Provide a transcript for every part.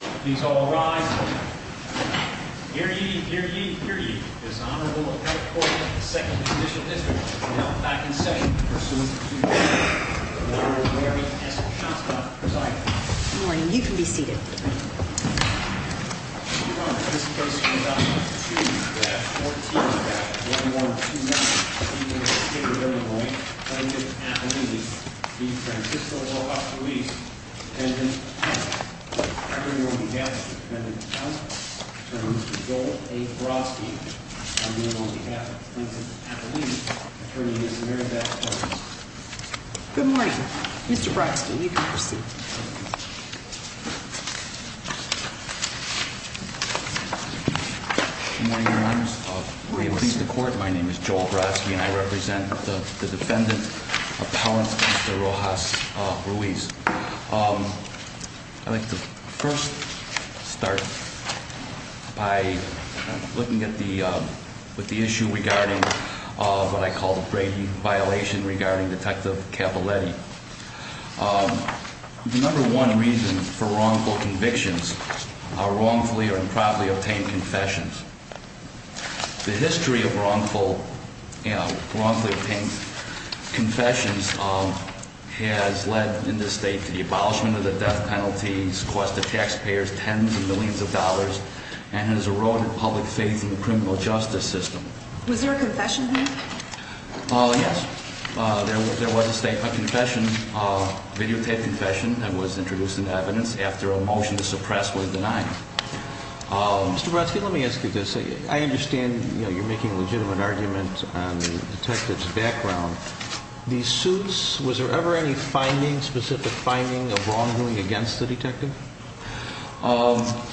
Please all rise. Hear ye, hear ye, hear ye. This Honorable Elkhorn of the Second Judicial District will now come back in session for some Q&A. The floor is where we ask the shots to be presided over. Good morning. You can be seated. Your Honor, this case is about to be pursued. We have four teams. On behalf of the 112-9 Eastern State of Illinois plaintiff at the least, the Francisco Rojas-Ruiz dependent counsel. Attorney on behalf of the dependent counsel, Attorney Mr. Joel A. Brodsky. On behalf of the plaintiff at the least, Attorney Ms. Mary Beth Collins. Good morning. Mr. Brodsky, you can be seated. Good morning, Your Honors. May it please the Court, my name is Joel Brodsky and I represent the defendant, Appellant Mr. Rojas-Ruiz. I'd like to first start by looking at the issue regarding what I call the Brady violation regarding Detective Cavaletti. The number one reason for wrongful convictions are wrongfully or improperly obtained confessions. The history of wrongfully obtained confessions has led in this state to the abolishment of the death penalties, cost the taxpayers tens of millions of dollars, and has eroded public faith in the criminal justice system. Was there a confession here? Yes, there was a statement of confession, a videotaped confession that was introduced in evidence after a motion to suppress was denied. Mr. Brodsky, let me ask you this. I understand you're making a legitimate argument on the detective's background. These suits, was there ever any finding, specific finding of wrongdoing against the detective? I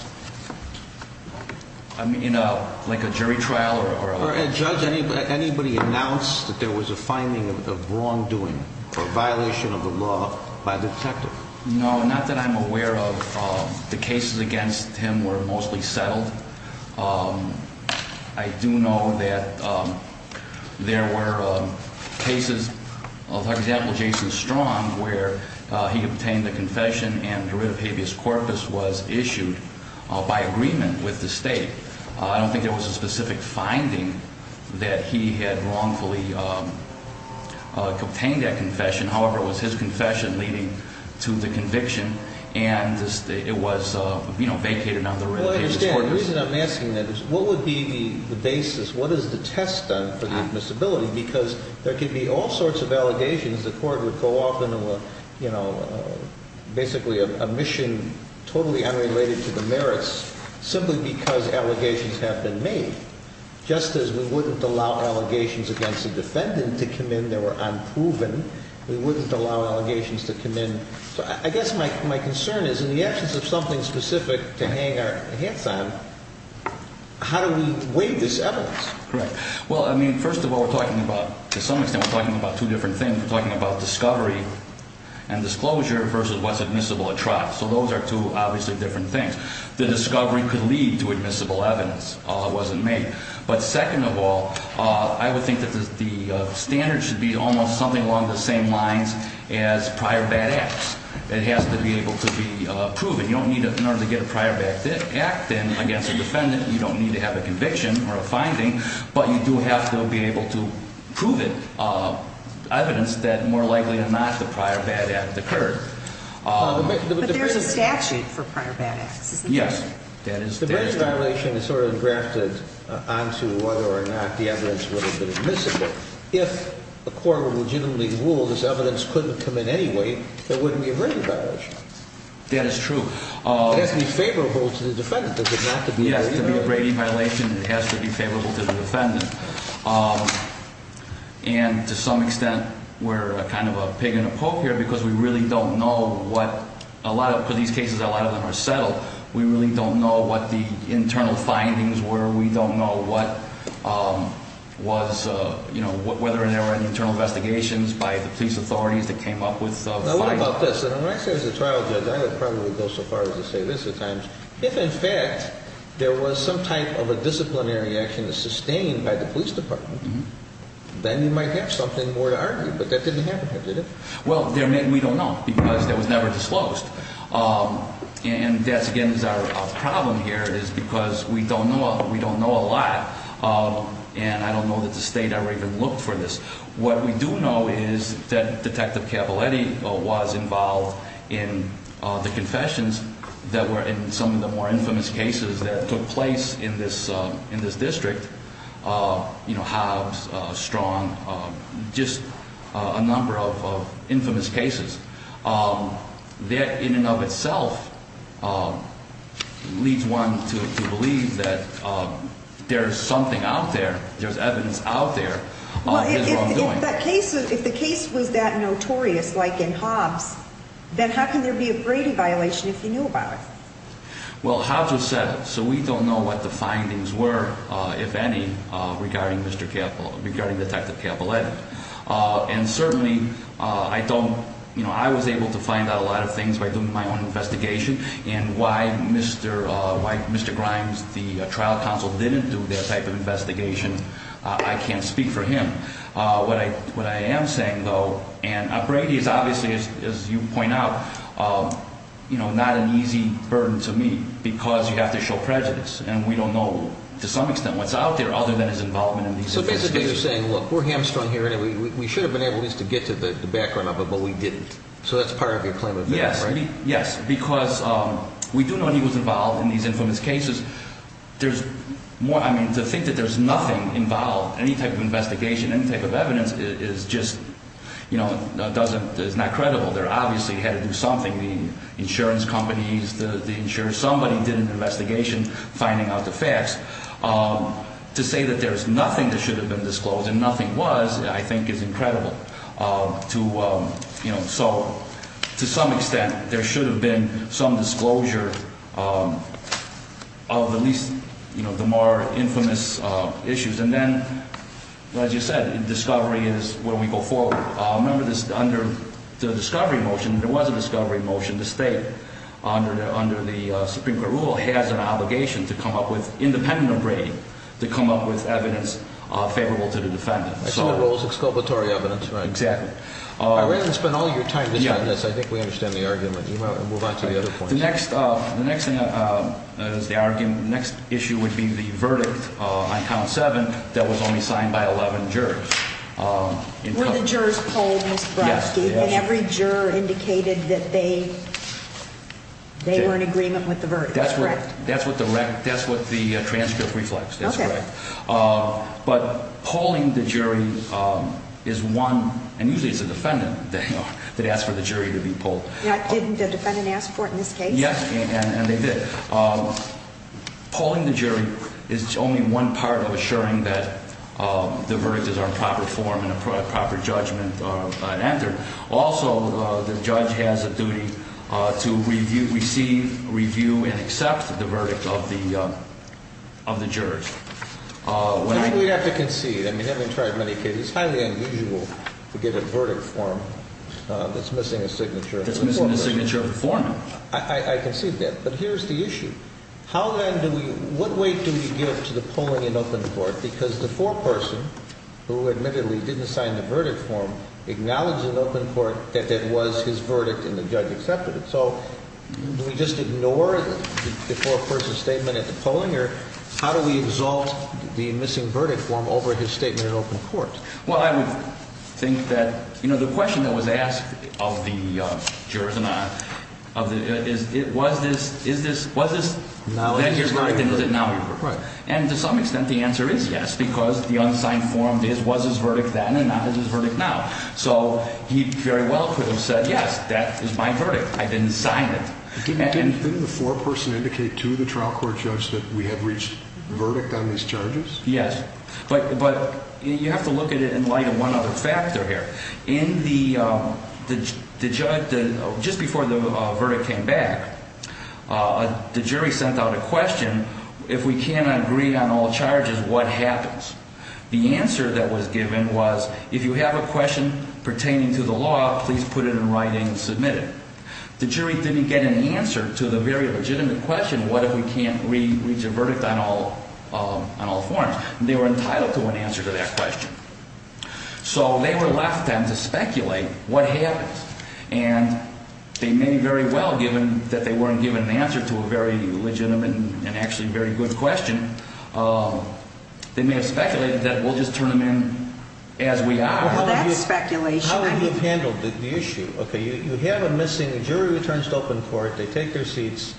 mean, like a jury trial? Judge, anybody announce that there was a finding of wrongdoing or violation of the law by the detective? No, not that I'm aware of. The cases against him were mostly settled. I do know that there were cases, for example, Jason Strong, where he obtained a confession and hereditative habeas corpus was issued by agreement with the state. I don't think there was a specific finding that he had wrongfully obtained that confession. However, it was his confession leading to the conviction, and it was vacated on the hereditative habeas corpus. Well, I understand. The reason I'm asking that is, what would be the basis, what is the test done for the admissibility? Because there could be all sorts of allegations. The court would go off into a, you know, basically a mission totally unrelated to the merits simply because allegations have been made, just as we wouldn't allow allegations against a defendant to come in that were unproven. We wouldn't allow allegations to come in. So I guess my concern is, in the absence of something specific to hang our hats on, how do we weigh this evidence? Correct. Well, I mean, first of all, we're talking about, to some extent, we're talking about two different things. We're talking about discovery and disclosure versus what's admissible at trial. So those are two obviously different things. The discovery could lead to admissible evidence, although it wasn't made. But second of all, I would think that the standard should be almost something along the same lines as prior bad acts. It has to be able to be proven. You don't need to, in order to get a prior bad act in against a defendant, you don't need to have a conviction or a finding, but you do have to be able to prove it, evidence that, more likely than not, the prior bad act occurred. But there's a statute for prior bad acts, isn't there? Yes. That is true. The Brady violation is sort of grafted onto whether or not the evidence would have been admissible. If a court would legitimately rule this evidence couldn't come in anyway, there wouldn't be a Brady violation. That is true. It has to be favorable to the defendant. It does not have to be... It has to be a Brady violation. It has to be favorable to the defendant. And to some extent, we're kind of a pig in a poke here because we really don't know what... Because these cases, a lot of them are settled, we really don't know what the internal findings were. We don't know whether there were any internal investigations by the police authorities that came up with findings. Now, what about this? When I say as a trial judge, I would probably go so far as to say this at times. If, in fact, there was some type of a disciplinary action sustained by the police department, then you might have something more to argue. But that didn't happen here, did it? Well, we don't know because it was never disclosed. And that, again, is our problem here is because we don't know a lot. And I don't know that the state ever even looked for this. What we do know is that Detective Capaletti was involved in the confessions that were in some of the more infamous cases that took place in this district. You know, Hobbs, Strong, just a number of infamous cases. That, in and of itself, leads one to believe that there's something out there, there's evidence out there of his wrongdoing. Well, if the case was that notorious like in Hobbs, then how can there be a Brady violation if you knew about it? Well, Hobbs was settled, so we don't know what the findings were. If any, regarding Detective Capaletti. And certainly, I was able to find out a lot of things by doing my own investigation. And why Mr. Grimes, the trial counsel, didn't do that type of investigation, I can't speak for him. What I am saying, though, and Brady is obviously, as you point out, not an easy burden to meet because you have to show prejudice. And we don't know, to some extent, what's out there other than his involvement in these infamous cases. So basically you're saying, look, we're hamstrung here, and we should have been able at least to get to the background of it, but we didn't. So that's part of your claim of evidence, right? Yes, because we do know he was involved in these infamous cases. There's more, I mean, to think that there's nothing involved, any type of investigation, any type of evidence, is just, you know, doesn't, is not credible. There obviously had to be something. The insurance companies, the insurance, somebody did an investigation finding out the facts. To say that there's nothing that should have been disclosed and nothing was, I think, is incredible. To, you know, so, to some extent, there should have been some disclosure of at least, you know, the more infamous issues. And then, as you said, discovery is where we go forward. Remember this, under the discovery motion, there was a discovery motion to state that the defendant, under the Supreme Court rule, has an obligation to come up with, independent of Brady, to come up with evidence favorable to the defendant. So it was exculpatory evidence, right? Exactly. I really spent all your time discussing this. I think we understand the argument. You might want to move on to the other points. The next thing is the argument, the next issue would be the verdict on Count 7 that was only signed by 11 jurors. Were the jurors polled, Mr. Brodsky? Yes. And every juror indicated that they were in agreement with the verdict, correct? That's what the transcript reflects, that's correct. Okay. But polling the jury is one, and usually it's the defendant that asked for the jury to be polled. Didn't the defendant ask for it in this case? Yes, and they did. Polling the jury is only one part of assuring that the verdict is in proper form and a proper judgment entered. Also, the judge has a duty to receive, review, and accept the verdict of the jurors. I think we have to concede. I mean, having tried many cases, it's highly unusual to get a verdict form that's missing a signature. It's missing the signature of the foreman. I concede that. But here's the issue. How then do we, what weight do we give to the polling in open court? Because the foreperson, who admittedly didn't sign the verdict form, acknowledged in open court that that was his verdict and the judge accepted it. So do we just ignore the foreperson's statement at the polling? Or how do we exalt the missing verdict form over his statement in open court? Well, I would think that, you know, the question that was asked of the jurors and I, was this, that here's what I think, was it now in open court? Right. And to some extent the answer is yes, because the unsigned form was his verdict then and not his verdict now. So he very well could have said, yes, that is my verdict. I didn't sign it. Didn't the foreperson indicate to the trial court judge that we had reached verdict on these charges? Yes. But you have to look at it in light of one other factor here. In the, just before the verdict came back, the jury sent out a question, if we cannot agree on all charges, what happens? The answer that was given was, if you have a question pertaining to the law, please put it in writing and submit it. The jury didn't get an answer to the very legitimate question, what if we can't reach a verdict on all forms? They were entitled to an answer to that question. So they were left then to speculate what happens. And they may very well have given that they weren't given an answer to a very legitimate and actually very good question. They may have speculated that we'll just turn them in as we are. Well, that's speculation. How would you have handled the issue? You have a missing jury returns to open court, they take their seats,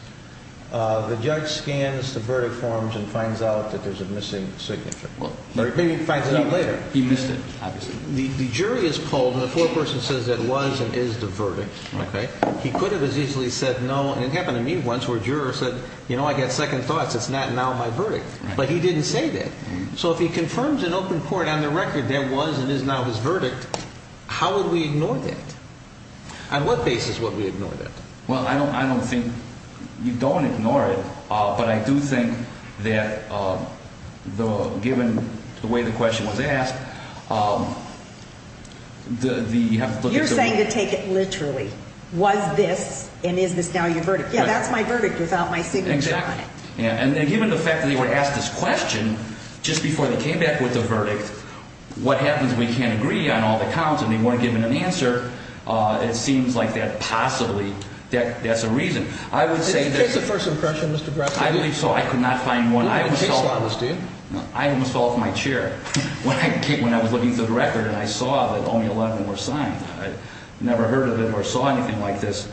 the judge scans the verdict forms and finds out that there's a missing signature. Maybe he finds it out later. He missed it, obviously. The jury is called and the foreperson says it was and is the verdict. He could have as easily said no and it happened to me once where a juror said, you know, I got second thoughts, it's not now my verdict. But he didn't say that. So if he confirms in open court on the record there was and is now his verdict, how would we ignore that? On what basis would we ignore that? Well, I don't think you don't ignore it, but I do think that given the way the question was asked, You're saying to take it literally. Was this and is this now your verdict? Yeah, that's my verdict without my signature on it. Exactly. And given the fact that they were asked this question just before they came back with the verdict, what happens if we can't agree on all the counts and they weren't given an answer, it seems like that possibly that's a reason. Did you get the first impression, Mr. Grassley? I believe so. I could not find one. You don't have a case file, do you? I almost fell off my chair when I was looking through the record and I saw that only 11 were signed. I never heard of it or saw anything like this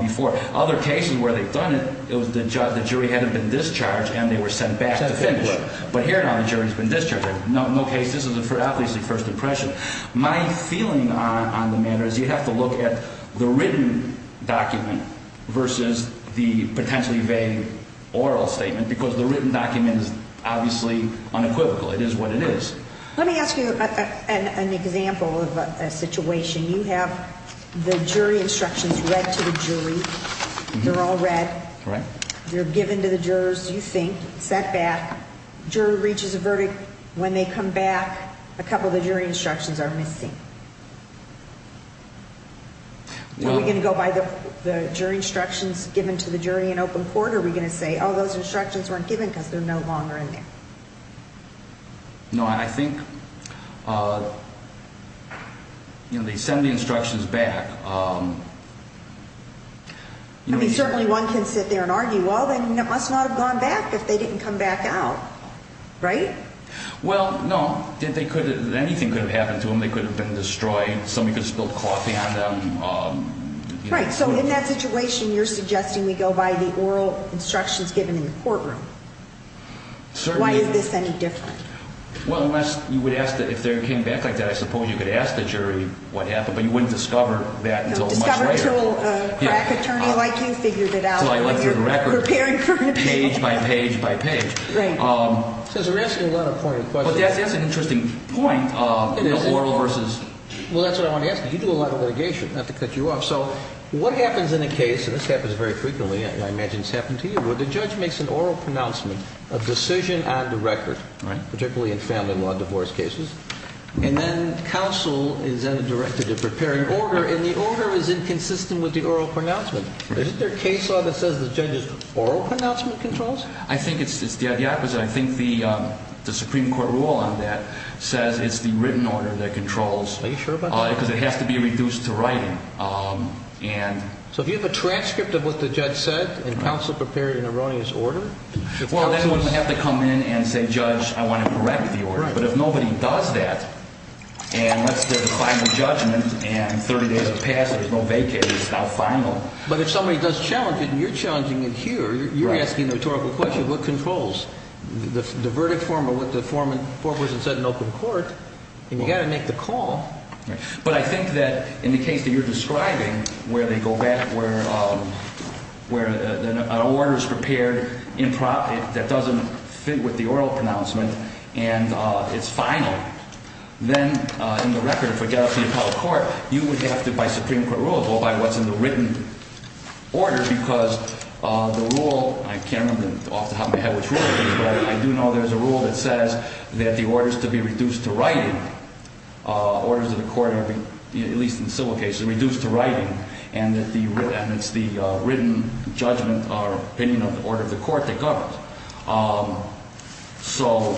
before. Other cases where they've done it, the jury hadn't been discharged and they were sent back to finish. But here now the jury's been discharged. No case, this is obviously first impression. My feeling on the matter is you have to look at the written document versus the potentially vague oral statement because the written document is obviously unequivocal. It is what it is. Let me ask you an example of a situation. You have the jury instructions read to the jury. They're all read. They're given to the jurors, you think, sent back. Jury reaches a verdict. When they come back, a couple of the jury instructions are missing. Are we going to go by the jury instructions given to the jury in open court or are we going to say, oh, those instructions weren't given because they're no longer in there? No, and I think they send the instructions back. I mean, certainly one can sit there and argue, well, they must not have gone back if they didn't come back out, right? Well, no, anything could have happened to them. They could have been destroyed. Somebody could have spilled coffee on them. Right, so in that situation you're suggesting we go by the oral instructions given in the courtroom. Why is this any different? Well, unless you would ask that if they came back like that, I suppose you could ask the jury what happened, but you wouldn't discover that until much later. Discover until a crack attorney like you figured it out, like you're preparing for it. Page by page by page. Right. Since we're asking a lot of pointed questions. But that's an interesting point, you know, oral versus. Well, that's what I want to ask you. You do a lot of litigation, not to cut you off. So what happens in a case, and this happens very frequently, and I imagine it's happened to you, where the judge makes an oral pronouncement, a decision on the record, particularly in family law divorce cases, and then counsel is then directed to prepare an order, and the order is inconsistent with the oral pronouncement. Isn't there a case law that says the judge's oral pronouncement controls? I think it's the opposite. I think the Supreme Court rule on that says it's the written order that controls. Are you sure about that? Because it has to be reduced to writing. So if you have a transcript of what the judge said and counsel prepared an erroneous order? Well, then you wouldn't have to come in and say, Judge, I want to correct the order. But if nobody does that, and let's do the final judgment, and 30 days have passed, there's no vacay, it's not final. But if somebody does challenge it, and you're challenging it here, you're asking the rhetorical question, what controls? The verdict form or what the foreperson said in open court, then you've got to make the call. But I think that in the case that you're describing, where an order is prepared improperly, that doesn't fit with the oral pronouncement, and it's final, then in the record of fidelity in public court, you would have to, by Supreme Court rule, go by what's in the written order, because the rule, I can't remember off the top of my head which rule it is, but I do know there's a rule that says that the orders to be reduced to writing, orders of the court, at least in civil cases, reduced to writing, and it's the written judgment or opinion of the order of the court that governs. So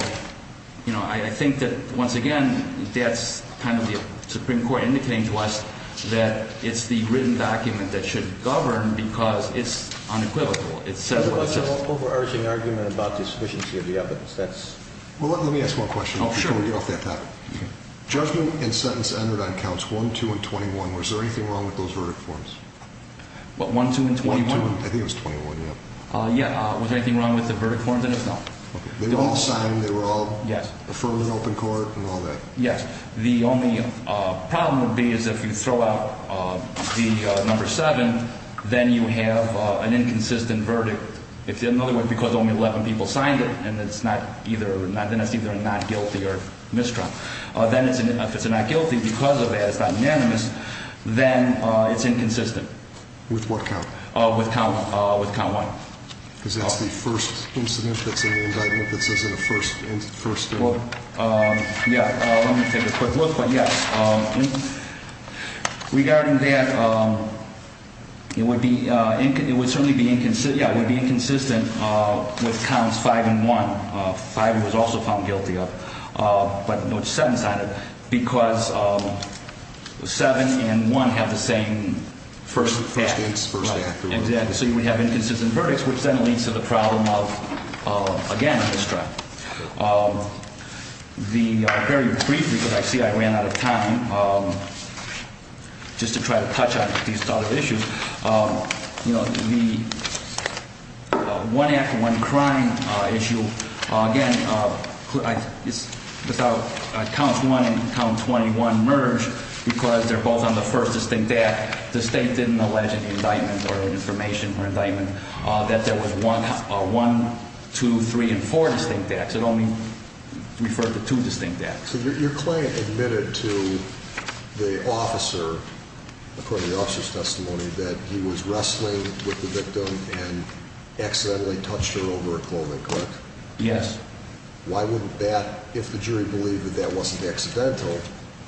I think that, once again, that's kind of the Supreme Court indicating to us that it's the written document that should govern because it's unequivocal. Is there an overarching argument about the sufficiency of the evidence? Well, let me ask one question before we get off that topic. Judgment and sentence entered on counts 1, 2, and 21. Was there anything wrong with those verdict forms? What, 1, 2, and 21? I think it was 21, yeah. Yeah. Was there anything wrong with the verdict forms? No. They were all signed. They were all affirmed in open court and all that? Yes. The only problem would be is if you throw out the number 7, then you have an inconsistent verdict. In other words, because only 11 people signed it, then it's either not guilty or misdrawn. Then if it's not guilty because of that, it's not unanimous, then it's inconsistent. With what count? With count 1. Because that's the first incident that's in the indictment that says it's the first? Well, yeah. Let me take a quick look. But, yes, regarding that, it would certainly be inconsistent with counts 5 and 1. 5 was also found guilty of. But 7 signed it because 7 and 1 have the same first act. So you would have inconsistent verdicts, which then leads to the problem of, again, misdrawn. Very briefly, because I see I ran out of time, just to try to touch on these sort of issues, the one act, one crime issue, again, without counts 1 and count 21 merge, because they're both on the first distinct act, the state didn't allege in the indictment or information for indictment that there was one, two, three, and four distinct acts. It only referred to two distinct acts. So your client admitted to the officer, according to the officer's testimony, that he was wrestling with the victim and accidentally touched her over her clothing, correct? Yes. Why wouldn't that, if the jury believed that that wasn't accidental,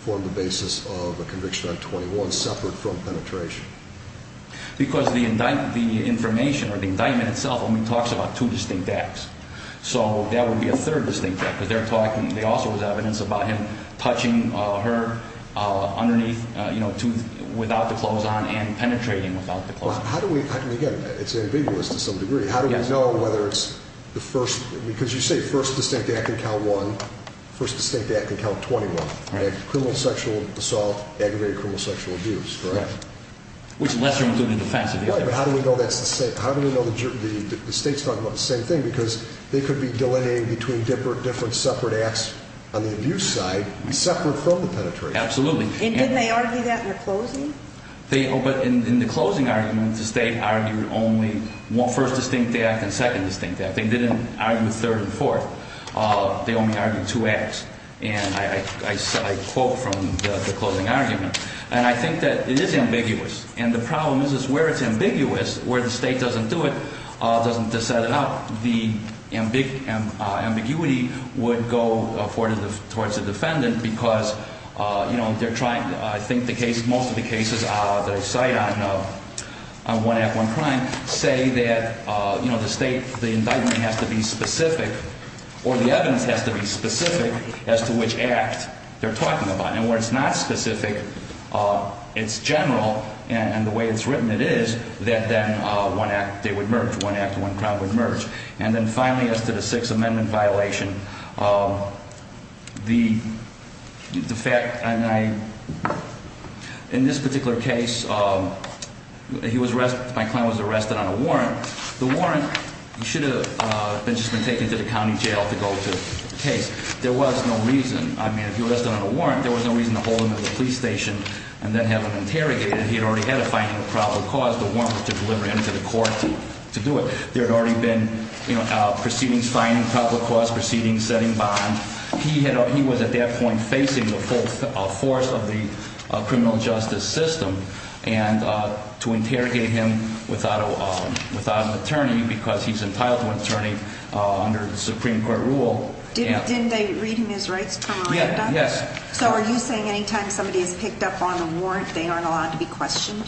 form the basis of a conviction on 21 separate from penetration? Because the information or the indictment itself only talks about two distinct acts. So that would be a third distinct act, because they're talking, there also was evidence about him touching her underneath, you know, without the clothes on and penetrating without the clothes on. How do we, again, it's ambiguous to some degree, how do we know whether it's the first, because you say first distinct act in count 1, first distinct act in count 21, criminal sexual assault, aggravated criminal sexual abuse, correct? Which lesser would do the defense of the other? Right, but how do we know that's the same? How do we know the state's talking about the same thing? Because they could be delineating between different separate acts on the abuse side, separate from the penetration. Absolutely. And didn't they argue that in the closing? But in the closing argument, the state argued only one first distinct act and second distinct act. They didn't argue a third and fourth. They only argued two acts. And I quote from the closing argument. And I think that it is ambiguous. And the problem is where it's ambiguous, where the state doesn't do it, doesn't set it up, the ambiguity would go towards the defendant because, you know, they're trying to, I think the case, most of the cases they cite on 1 Act, 1 Crime, say that, you know, the state, the indictment has to be specific or the evidence has to be specific as to which act they're talking about. And where it's not specific, it's general. And the way it's written, it is that then 1 Act, they would merge. 1 Act, 1 Crime would merge. And then finally, as to the Sixth Amendment violation, the fact, and I, in this particular case, he was, my client was arrested on a warrant. The warrant should have just been taken to the county jail to go to the case. There was no reason. I mean, if he was arrested on a warrant, there was no reason to hold him at the police station and then have him interrogated. He had already had a finding of probable cause. The warrant was to deliver him to the court to do it. There had already been, you know, proceedings signing, probable cause proceedings, setting bond. He had, he was at that point facing the full force of the criminal justice system and to interrogate him without an attorney because he's entitled to an attorney under the Supreme Court rule. Didn't they read him his rights permanent? Yes. So are you saying anytime somebody is picked up on a warrant, they aren't allowed to be questioned?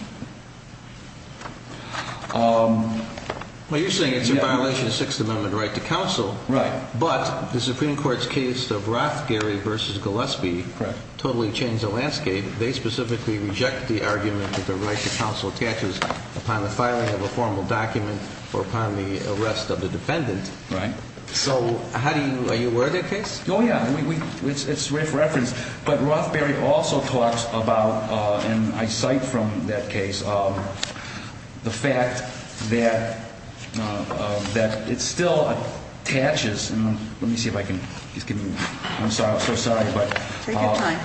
Well, you're saying it's a violation of Sixth Amendment right to counsel. Right. But the Supreme Court's case of Rothgary v. Gillespie totally changed the landscape. They specifically reject the argument that the right to counsel attaches upon the filing of a formal document or upon the arrest of the defendant. Right. So how do you, are you aware of that case? Oh, yeah. It's right for reference. But Rothgary also talks about, and I cite from that case, the fact that it still attaches. Let me see if I can just give you, I'm sorry, I'm so sorry. Take your time.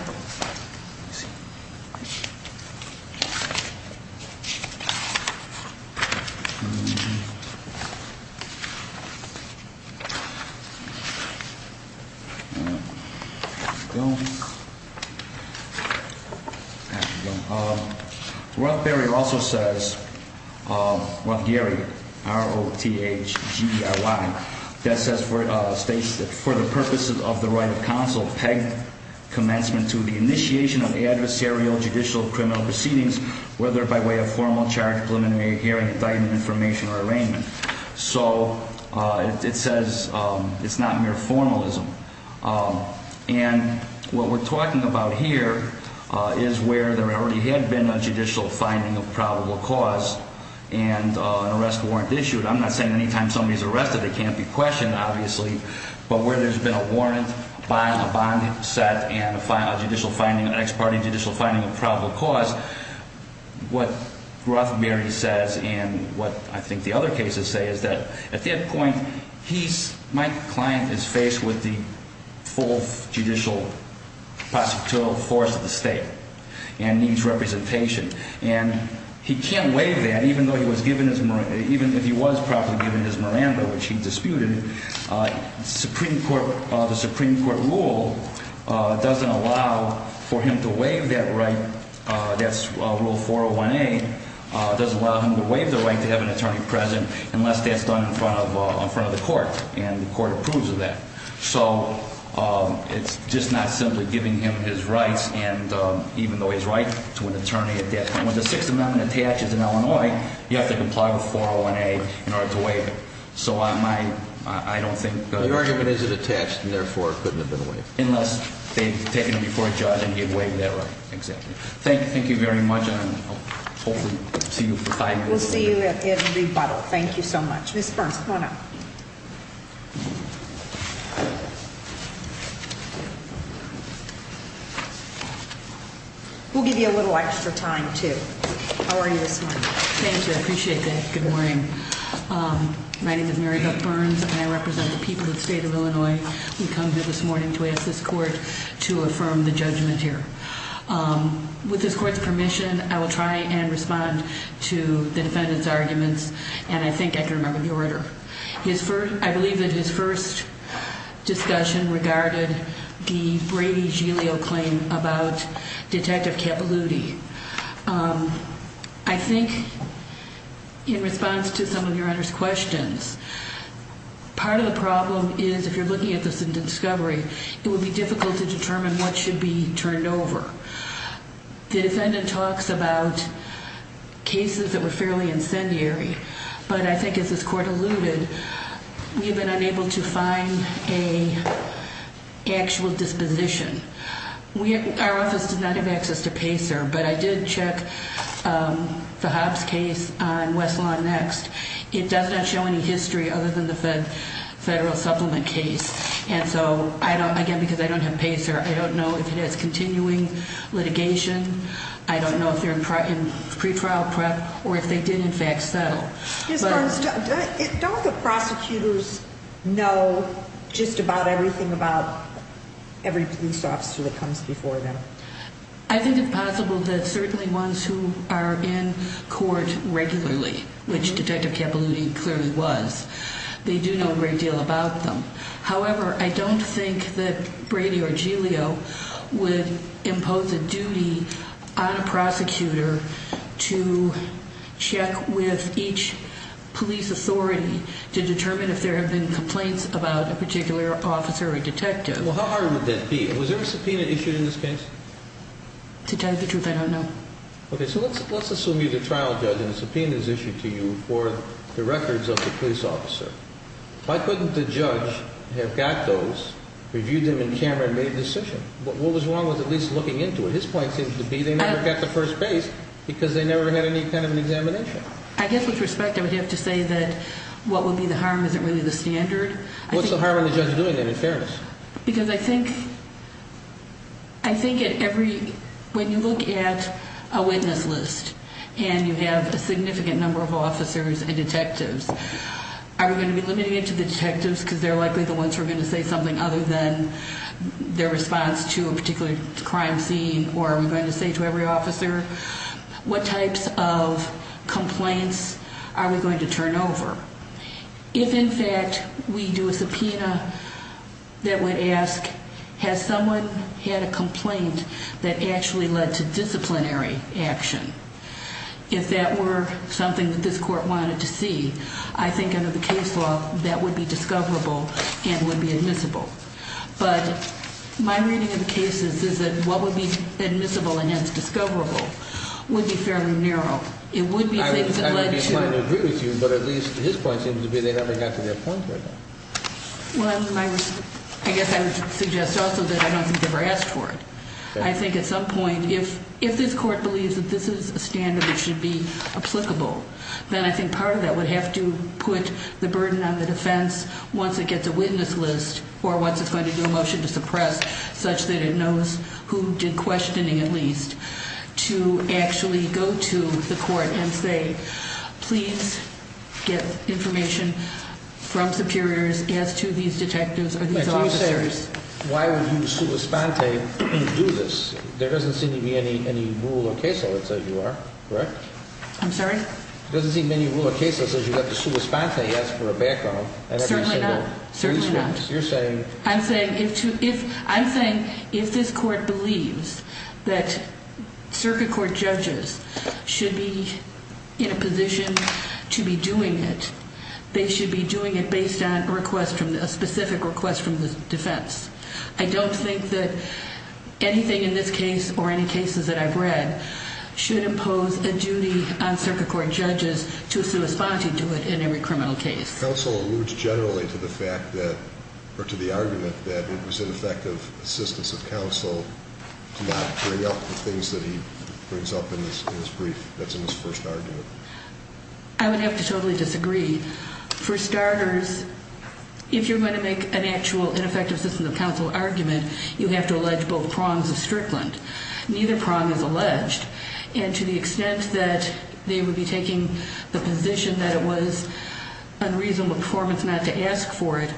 There we go. There we go. Rothgary also says, Rothgary, R-O-T-H-G-E-R-Y, that says for the purposes of the right of counsel pegged commencement to the initiation of adversarial judicial criminal proceedings, whether by way of formal charge, preliminary hearing, indictment, information, or arraignment. So it says it's not mere formalism. And what we're talking about here is where there already had been a judicial finding of probable cause and an arrest warrant issued. I'm not saying anytime somebody's arrested they can't be questioned, obviously. But where there's been a warrant, a bond set, and a judicial finding, an ex parte judicial finding of probable cause, what Rothgary says and what I think the other cases say is that at that point, my client is faced with the full judicial prosecutorial force of the state and needs representation. And he can't waive that, even if he was properly given his Miranda, which he disputed. The Supreme Court rule doesn't allow for him to waive that right. That's Rule 401A. It doesn't allow him to waive the right to have an attorney present unless that's done in front of the court. And the court approves of that. So it's just not simply giving him his rights, even though he's right to an attorney at that point. When the Sixth Amendment attaches in Illinois, you have to comply with 401A in order to waive it. So I don't think- The argument is it attached and therefore couldn't have been waived. Unless they've taken him before a judge and he had waived that right. Exactly. Thank you very much. And hopefully see you for five years. We'll see you in rebuttal. Thank you so much. Ms. Burns, come on up. We'll give you a little extra time, too. How are you this morning? Thank you. I appreciate that. Good morning. My name is Mary Beth Burns, and I represent the people of the state of Illinois. We come here this morning to ask this court to affirm the judgment here. With this court's permission, I will try and respond to the defendant's arguments. And I think I can remember the order. I believe that his first discussion regarded the Brady-Gilio claim about Detective Capilouti. I think in response to some of your Honor's questions, part of the problem is, if you're looking at this in discovery, it would be difficult to determine what should be turned over. The defendant talks about cases that were fairly incendiary. But I think, as this court alluded, we have been unable to find an actual disposition. Our office did not have access to PACER, but I did check the Hobbs case on Westlaw Next. It does not show any history other than the federal supplement case. And so, again, because I don't have PACER, I don't know if it has continuing litigation. I don't know if they're in pretrial prep or if they did, in fact, settle. Don't the prosecutors know just about everything about every police officer that comes before them? I think it's possible that certainly ones who are in court regularly, which Detective Capilouti clearly was, they do know a great deal about them. However, I don't think that Brady or Giglio would impose a duty on a prosecutor to check with each police authority to determine if there have been complaints about a particular officer or detective. Well, how hard would that be? Was there a subpoena issued in this case? To tell you the truth, I don't know. Okay, so let's assume you're the trial judge and a subpoena is issued to you for the records of the police officer. Why couldn't the judge have got those, reviewed them in camera, and made the decision? What was wrong with at least looking into it? His point seems to be they never got the first base because they never had any kind of an examination. I guess with respect, I would have to say that what would be the harm isn't really the standard. What's the harm in the judge doing that, in fairness? Because I think when you look at a witness list and you have a significant number of officers and detectives, are we going to be limiting it to the detectives because they're likely the ones who are going to say something other than their response to a particular crime scene? Or are we going to say to every officer, what types of complaints are we going to turn over? If, in fact, we do a subpoena that would ask, has someone had a complaint that actually led to disciplinary action? If that were something that this court wanted to see, I think under the case law that would be discoverable and would be admissible. But my reading of the cases is that what would be admissible and hence discoverable would be fairly narrow. It would be things that led to- I would be inclined to agree with you, but at least his point seems to be they never got to their point right now. Well, I guess I would suggest also that I don't think they were asked for it. I think at some point, if this court believes that this is a standard that should be applicable, then I think part of that would have to put the burden on the defense once it gets a witness list or once it's going to do a motion to suppress such that it knows who did questioning at least to actually go to the court and say, please get information from superiors as to these detectives or these officers. Why would you, sua sponte, do this? There doesn't seem to be any rule or case law that says you are, correct? I'm sorry? There doesn't seem to be any rule or case that says you have to sua sponte, ask for a background. Certainly not. You're saying- I'm saying if this court believes that circuit court judges should be in a position to be doing it, they should be doing it based on a specific request from the defense. I don't think that anything in this case or any cases that I've read should impose a duty on circuit court judges to sua sponte to do it in every criminal case. Counsel alludes generally to the argument that it was in effect of assistance of counsel to not bring up the things that he brings up in his brief that's in his first argument. I would have to totally disagree. For starters, if you're going to make an actual ineffective assistance of counsel argument, you have to allege both prongs of Strickland. Neither prong is alleged. And to the extent that they would be taking the position that it was unreasonable performance not to ask for it,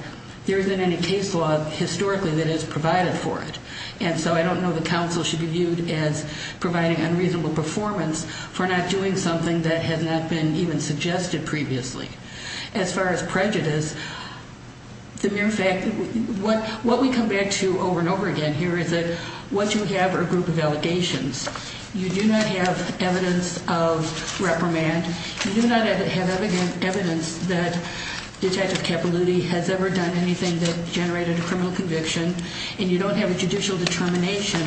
there isn't any case law historically that is provided for it. And so I don't know that counsel should be viewed as providing unreasonable performance for not doing something that has not been even suggested previously. As far as prejudice, the mere fact that what we come back to over and over again here is that what you have are a group of allegations. You do not have evidence of reprimand. You do not have evidence that Detective Capilouthi has ever done anything that generated a criminal conviction. And you don't have a judicial determination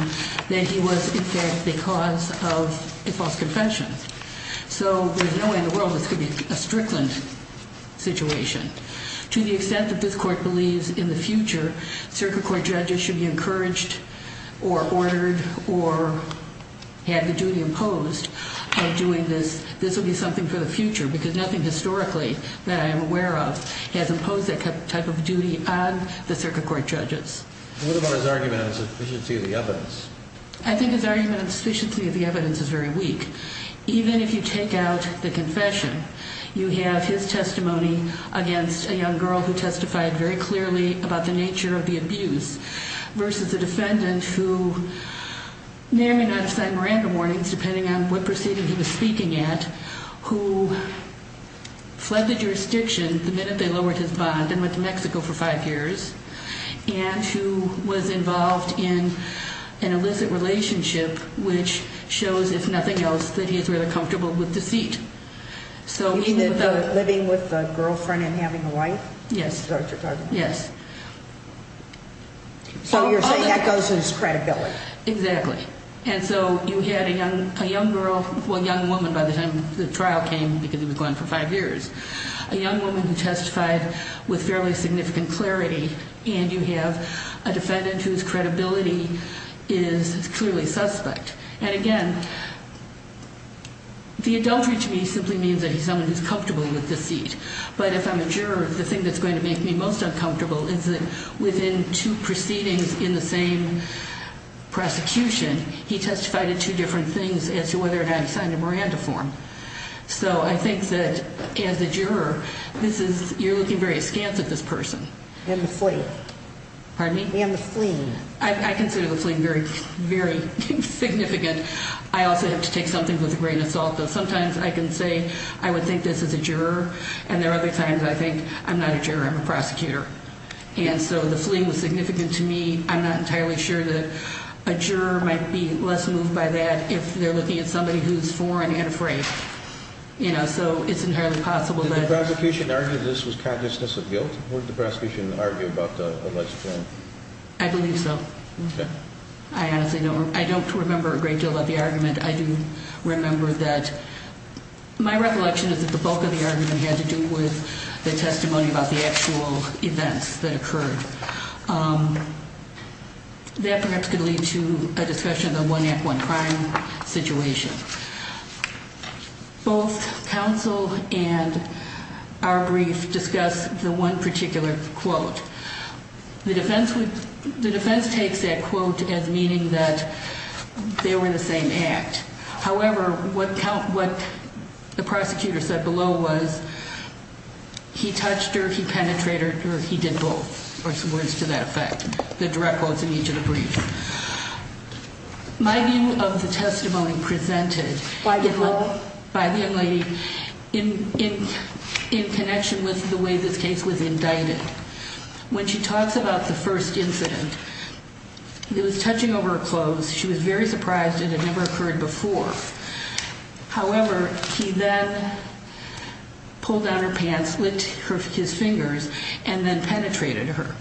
that he was in fact the cause of a false conviction. So there's no way in the world this could be a Strickland situation. To the extent that this court believes in the future, circuit court judges should be encouraged or ordered or have the duty imposed of doing this. This will be something for the future because nothing historically that I am aware of has imposed that type of duty on the circuit court judges. What about his argument on sufficiency of the evidence? I think his argument on sufficiency of the evidence is very weak. Even if you take out the confession, you have his testimony against a young girl who testified very clearly about the nature of the abuse versus a defendant who may or may not have signed Miranda warnings depending on what proceeding he was speaking at, who fled the jurisdiction the minute they lowered his bond and went to Mexico for five years, and who was involved in an illicit relationship which shows, if nothing else, that he's really comfortable with deceit. You mean the living with a girlfriend and having a wife? Yes. That's what you're talking about. Yes. So you're saying that goes with his credibility. Exactly. And so you had a young girl, well, young woman by the time the trial came because he was gone for five years, a young woman who testified with fairly significant clarity, and you have a defendant whose credibility is clearly suspect. And, again, the adultery to me simply means that he's someone who's comfortable with deceit. But if I'm a juror, the thing that's going to make me most uncomfortable is that he testified in two proceedings in the same prosecution. He testified in two different things as to whether or not he signed a Miranda form. So I think that, as a juror, you're looking very askance at this person. And the fleeing. Pardon me? And the fleeing. I consider the fleeing very significant. I also have to take something with a grain of salt, but sometimes I can say I would think this as a juror, and there are other times I think I'm not a juror, I'm a prosecutor. And so the fleeing was significant to me. I'm not entirely sure that a juror might be less moved by that if they're looking at somebody who's foreign and afraid. You know, so it's entirely possible that. Did the prosecution argue that this was consciousness of guilt? What did the prosecution argue about the alleged fleeing? I believe so. I honestly don't remember a great deal of the argument. I do remember that my recollection is that the bulk of the argument had to do with the testimony about the actual events that occurred. That perhaps could lead to a discussion of the one act, one crime situation. Both counsel and our brief discuss the one particular quote. The defense takes that quote as meaning that they were the same act. However, what the prosecutor said below was he touched her, he penetrated her, he did both, or some words to that effect. The direct quotes in each of the briefs. My view of the testimony presented by the young lady in connection with the way this case was indicted. When she talks about the first incident, it was touching over her clothes. She was very surprised it had never occurred before. However, he then pulled down her pants, licked his fingers, and then penetrated her.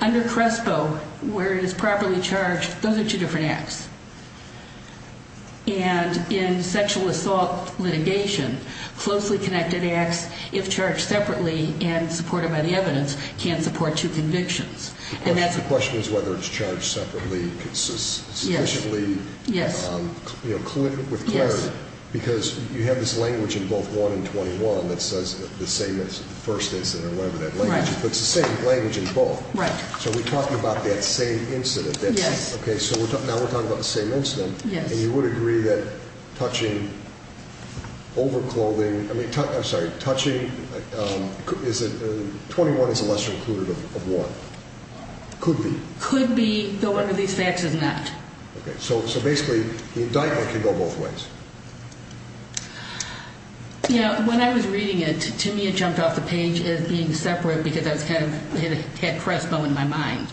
Under CRESPO, where it is properly charged, those are two different acts. And in sexual assault litigation, closely connected acts, if charged separately and supported by the evidence, can support two convictions. The question is whether it's charged separately sufficiently with clarity. Because you have this language in both 1 and 21 that says the same as the first incident or whatever that language is. But it's the same language in both. Right. So we're talking about that same incident. Yes. Okay, so now we're talking about the same incident. Yes. And you would agree that touching over clothing, I'm sorry, touching, 21 is a lesser included of 1? Could be. Could be, though one of these facts is not. Okay, so basically the indictment can go both ways. You know, when I was reading it, to me it jumped off the page as being separate because it had CRESPO in my mind.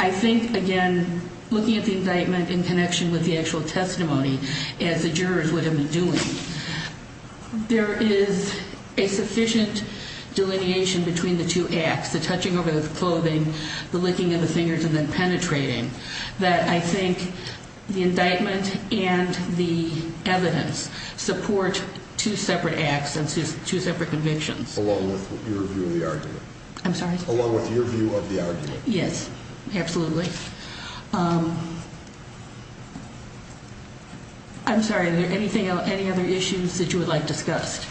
I think, again, looking at the indictment in connection with the actual testimony, as the jurors would have been doing, there is a sufficient delineation between the two acts, the touching over the clothing, the licking of the fingers, and then penetrating, that I think the indictment and the evidence support two separate acts and two separate convictions. Along with your view of the argument. I'm sorry? Along with your view of the argument. Yes, absolutely. I'm sorry, are there any other issues that you would like discussed?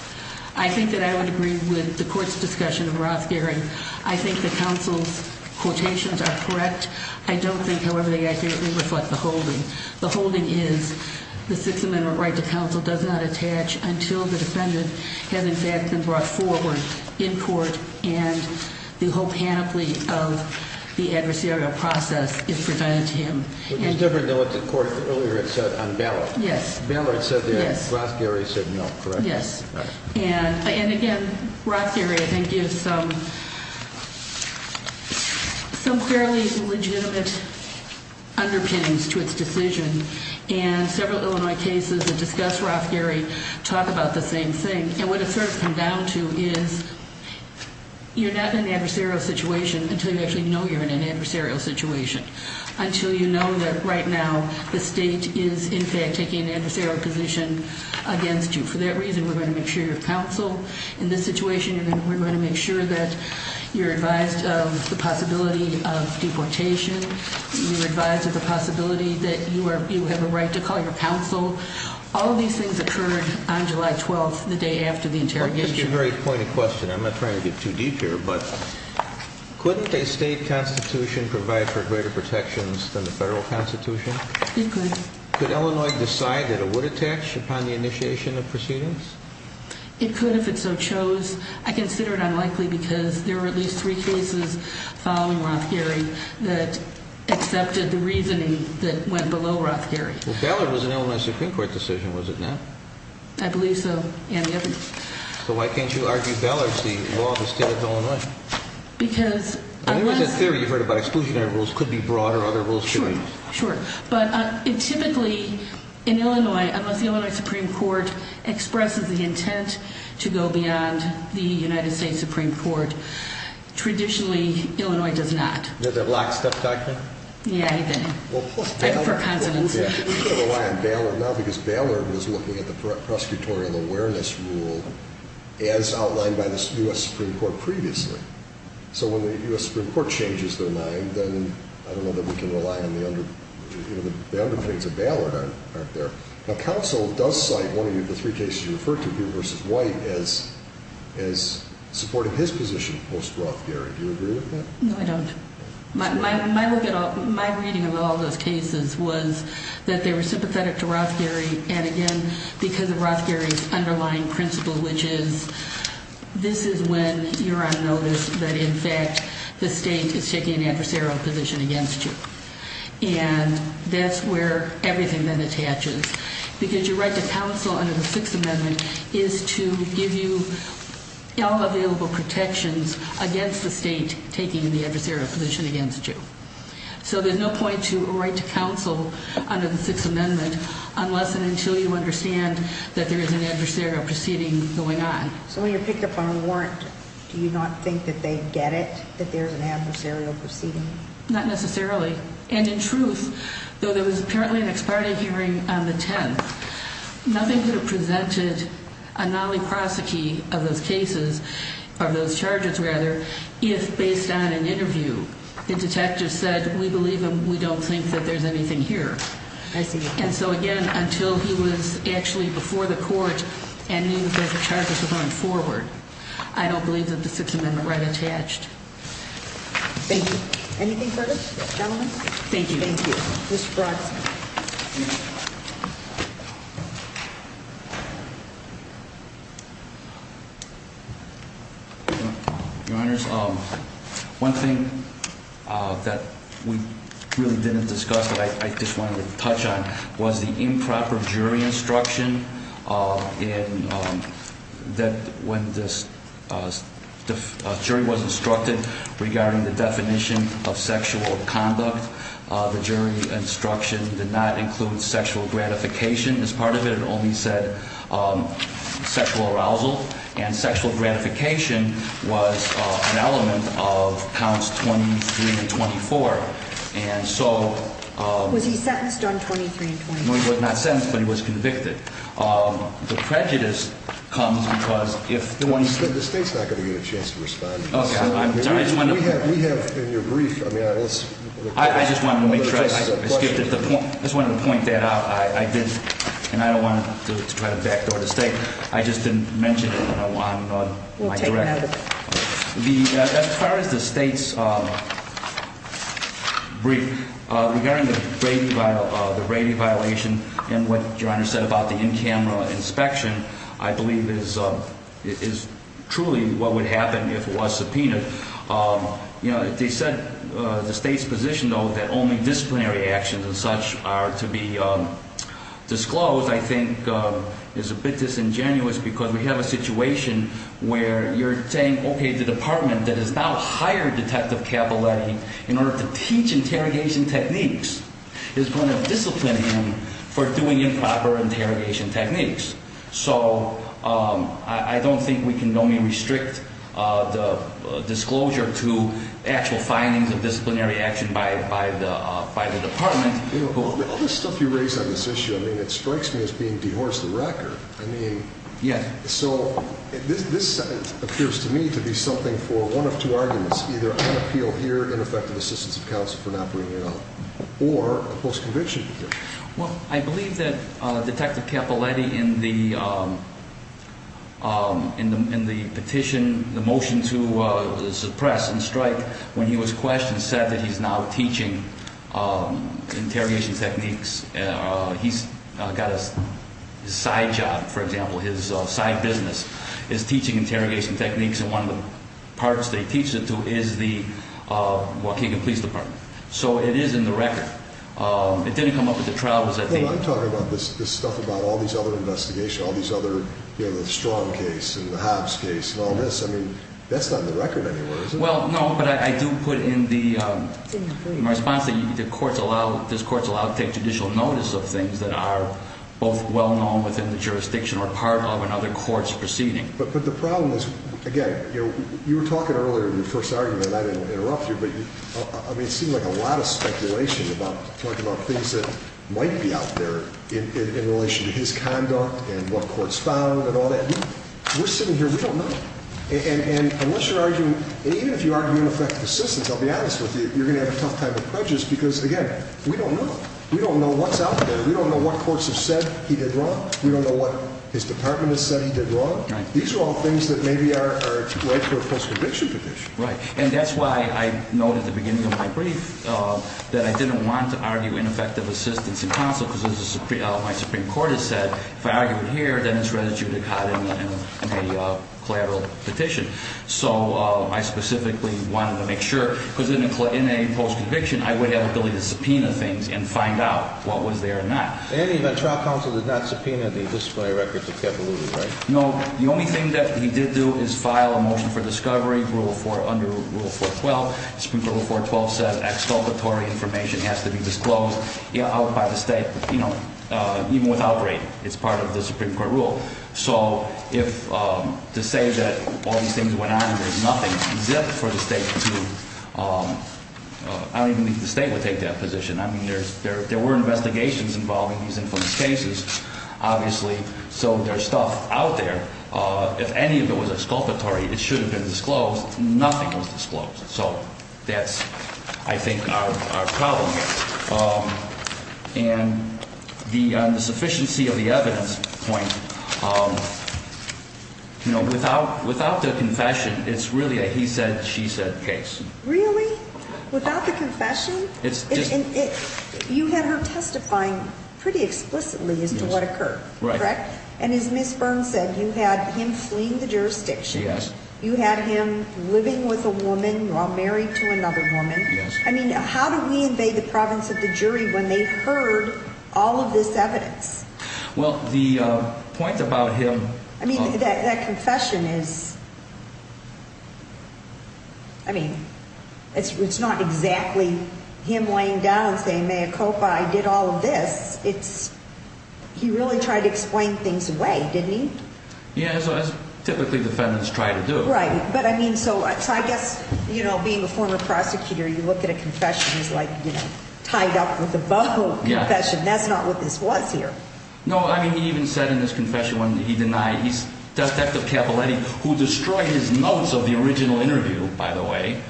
I think that I would agree with the court's discussion of Rothgaring. I think the counsel's quotations are correct. I don't think, however, they accurately reflect the holding. The holding is the Sixth Amendment right to counsel does not attach until the defendant has, in fact, been brought forward in court and the whole panoply of the adversarial process is presented to him. Which is different than what the court earlier had said on Ballard. Yes. Ballard said that Rothgaring said no, correct? Yes. And again, Rothgaring, I think, gives some fairly legitimate underpinnings to its decision. And several Illinois cases that discuss Rothgaring talk about the same thing. And what it's sort of come down to is you're not in an adversarial situation until you actually know you're in an adversarial situation. Until you know that right now the state is, in fact, taking an adversarial position against you. For that reason, we're going to make sure you're counsel. In this situation, we're going to make sure that you're advised of the possibility of deportation. You're advised of the possibility that you have a right to call your counsel. All of these things occurred on July 12th, the day after the interrogation. Well, that's a very pointed question. I'm not trying to get too deep here. But couldn't a state constitution provide for greater protections than the federal constitution? It could. Could Illinois decide that it would attach upon the initiation of proceedings? It could if it so chose. I consider it unlikely because there were at least three cases following Rothgaring that accepted the reasoning that went below Rothgaring. Well, Ballard was an Illinois Supreme Court decision, was it not? I believe so. So why can't you argue Ballard's the law of the state of Illinois? Because I was— I think it was in theory you heard about exclusionary rules could be brought or other rules could be. Sure, sure. But typically in Illinois, unless the Illinois Supreme Court expresses the intent to go beyond the United States Supreme Court, traditionally Illinois does not. Did they block stuff, Dr.? Yeah, they did. Well, plus Ballard— I prefer consonants. We can rely on Ballard now because Ballard was looking at the prosecutorial awareness rule as outlined by the U.S. Supreme Court previously. So when the U.S. Supreme Court changes their mind, then I don't know that we can rely on the—the underpinnings of Ballard aren't there. Now, counsel does cite one of the three cases you referred to, Blue v. White, as supporting his position post-Rothgaring. Do you agree with that? No, I don't. My reading of all those cases was that they were sympathetic to Rothgaring and, again, because of Rothgaring's underlying principle, which is this is when you're on notice that, in fact, the state is taking an adversarial position against you. And that's where everything then attaches. Because your right to counsel under the Sixth Amendment is to give you all available protections against the state taking the adversarial position against you. So there's no point to a right to counsel under the Sixth Amendment unless and until you understand that there is an adversarial proceeding going on. So when you pick up on a warrant, do you not think that they get it, that there's an adversarial proceeding? Not necessarily. And, in truth, though there was apparently an ex parte hearing on the 10th, nothing could have presented a non-prosecute of those cases, of those charges, rather, if, based on an interview, the detective said, we believe him, we don't think that there's anything here. I see. And so, again, until he was actually before the court and knew that the charges were going forward, I don't believe that the Sixth Amendment right attached. Thank you. Anything further, gentlemen? Thank you. Thank you. Mr. Bronson. Your Honors, one thing that we really didn't discuss, but I just wanted to touch on, was the improper jury instruction that when the jury was instructed regarding the definition of sexual conduct, the jury instruction did not include sexual gratification as part of it. It only said sexual arousal. And sexual gratification was an element of counts 23 and 24. Was he sentenced on 23 and 24? No, he was not sentenced, but he was convicted. The prejudice comes because if the one- The State's not going to get a chance to respond. Okay, I'm sorry. We have, in your brief, I mean, it's- I just wanted to make sure I skipped it. I just wanted to point that out. I didn't, and I don't want to try to backdoor the State. I just didn't mention it when I'm on my direct- We'll take note of it. As far as the State's brief, regarding the Brady violation and what your Honor said about the in-camera inspection, I believe it is truly what would happen if it was subpoenaed. They said the State's position, though, that only disciplinary actions and such are to be disclosed, I think, is a bit disingenuous because we have a situation where you're saying, okay, the Department that has now hired Detective Capaletti in order to teach interrogation techniques is going to discipline him for doing improper interrogation techniques. So I don't think we can only restrict the disclosure to actual findings of disciplinary action by the Department. All this stuff you raise on this issue, I mean, it strikes me as being dehors the record. I mean- Yeah. So this appears to me to be something for one of two arguments, either unappeal here, ineffective assistance of counsel for not bringing it up, or a postconviction here. Well, I believe that Detective Capaletti in the petition, the motion to suppress and strike, when he was questioned, said that he's now teaching interrogation techniques. He's got a side job, for example, his side business is teaching interrogation techniques, and one of the parts that he teaches it to is the Waukegan Police Department. So it is in the record. It didn't come up at the trial. I'm talking about this stuff about all these other investigations, all these other, you know, the Strong case and the Hobbs case and all this. Well, no, but I do put in the response that this court's allowed to take judicial notice of things that are both well-known within the jurisdiction or part of another court's proceeding. But the problem is, again, you were talking earlier in your first argument, and I didn't interrupt you, but, I mean, it seemed like a lot of speculation about talking about things that might be out there in relation to his conduct and what courts found and all that. We're sitting here, we don't know. And unless you're arguing, even if you argue ineffective assistance, I'll be honest with you, you're going to have a tough time with pledges because, again, we don't know. We don't know what's out there. We don't know what courts have said he did wrong. We don't know what his department has said he did wrong. These are all things that maybe are right for a post-conviction petition. Right, and that's why I note at the beginning of my brief that I didn't want to argue ineffective assistance in counsel because, as my Supreme Court has said, if I argue it here, then it's restituted caught in a collateral petition. So I specifically wanted to make sure, because in a post-conviction, I would have the ability to subpoena things and find out what was there or not. In any event, trial counsel did not subpoena the disciplinary records of Kevaluwe, right? No. The only thing that he did do is file a motion for discovery under Rule 412. Supreme Court Rule 412 says exculpatory information has to be disclosed out by the state, even without rating. It's part of the Supreme Court rule. So to say that all these things went on and there's nothing exempt for the state to – I don't even think the state would take that position. I mean, there were investigations involving these infamous cases, obviously, so there's stuff out there. If any of it was exculpatory, it should have been disclosed. Nothing was disclosed. So that's, I think, our problem here. And on the sufficiency of the evidence point, without the confession, it's really a he said, she said case. Really? Without the confession? It's just – You had her testifying pretty explicitly as to what occurred, correct? Right. And as Ms. Burns said, you had him fleeing the jurisdiction. Yes. You had him living with a woman while married to another woman. Yes. I mean, how do we invade the province of the jury when they heard all of this evidence? Well, the point about him – I mean, that confession is – I mean, it's not exactly him laying down and saying, Mayakopa, I did all of this. It's – he really tried to explain things away, didn't he? Yeah, as typically defendants try to do. Right. But, I mean, so I guess, you know, being a former prosecutor, you look at a confession as, like, you know, tied up with a buffalo confession. That's not what this was here. No. I mean, he even said in his confession when he denied – Detective Capaletti, who destroyed his notes of the original interview, by the way,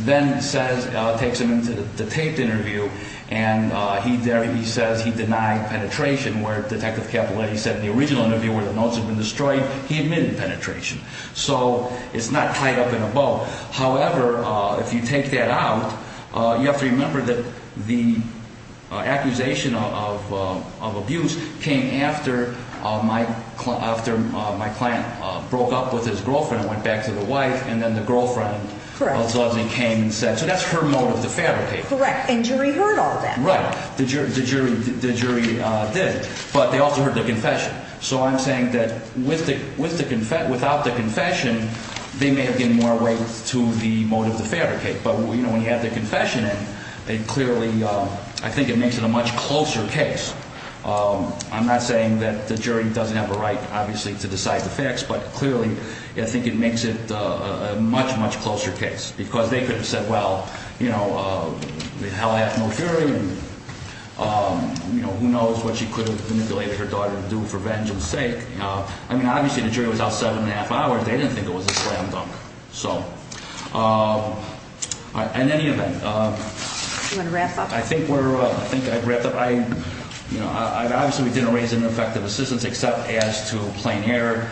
then says – takes him into the taped interview, and he – there he says he denied penetration, where Detective Capaletti said in the original interview where the notes had been destroyed, he admitted penetration. So it's not tied up in a bow. However, if you take that out, you have to remember that the accusation of abuse came after my client broke up with his girlfriend and went back to the wife, and then the girlfriend – Correct. All of a sudden came and said – so that's her motive to fabricate. Correct. And jury heard all that. Right. The jury did, but they also heard the confession. So I'm saying that with the – without the confession, they may have given more weight to the motive to fabricate. But, you know, when you have the confession in, it clearly – I think it makes it a much closer case. I'm not saying that the jury doesn't have a right, obviously, to decide the facts, but clearly I think it makes it a much, much closer case. Because they could have said, well, you know, the hell I have no jury, and, you know, who knows what she could have manipulated her daughter to do for vengeance' sake. I mean, obviously the jury was out seven and a half hours. They didn't think it was a slam dunk. So in any event – Do you want to wrap up? I think we're – I think I'd wrap up. You know, obviously we didn't raise ineffective assistance except as to a plain error.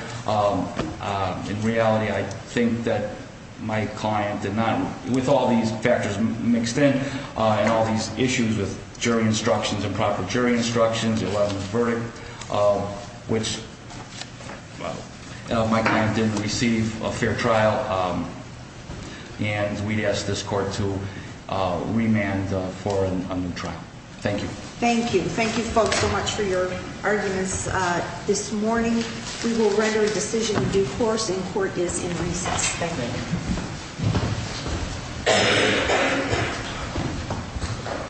In reality, I think that my client did not – with all these factors mixed in and all these issues with jury instructions, improper jury instructions, it wasn't a verdict, which my client didn't receive a fair trial. And we ask this court to remand for a new trial. Thank you. Thank you. Thank you, folks, so much for your arguments this morning. We will render a decision in due course, and court is in recess. Thank you.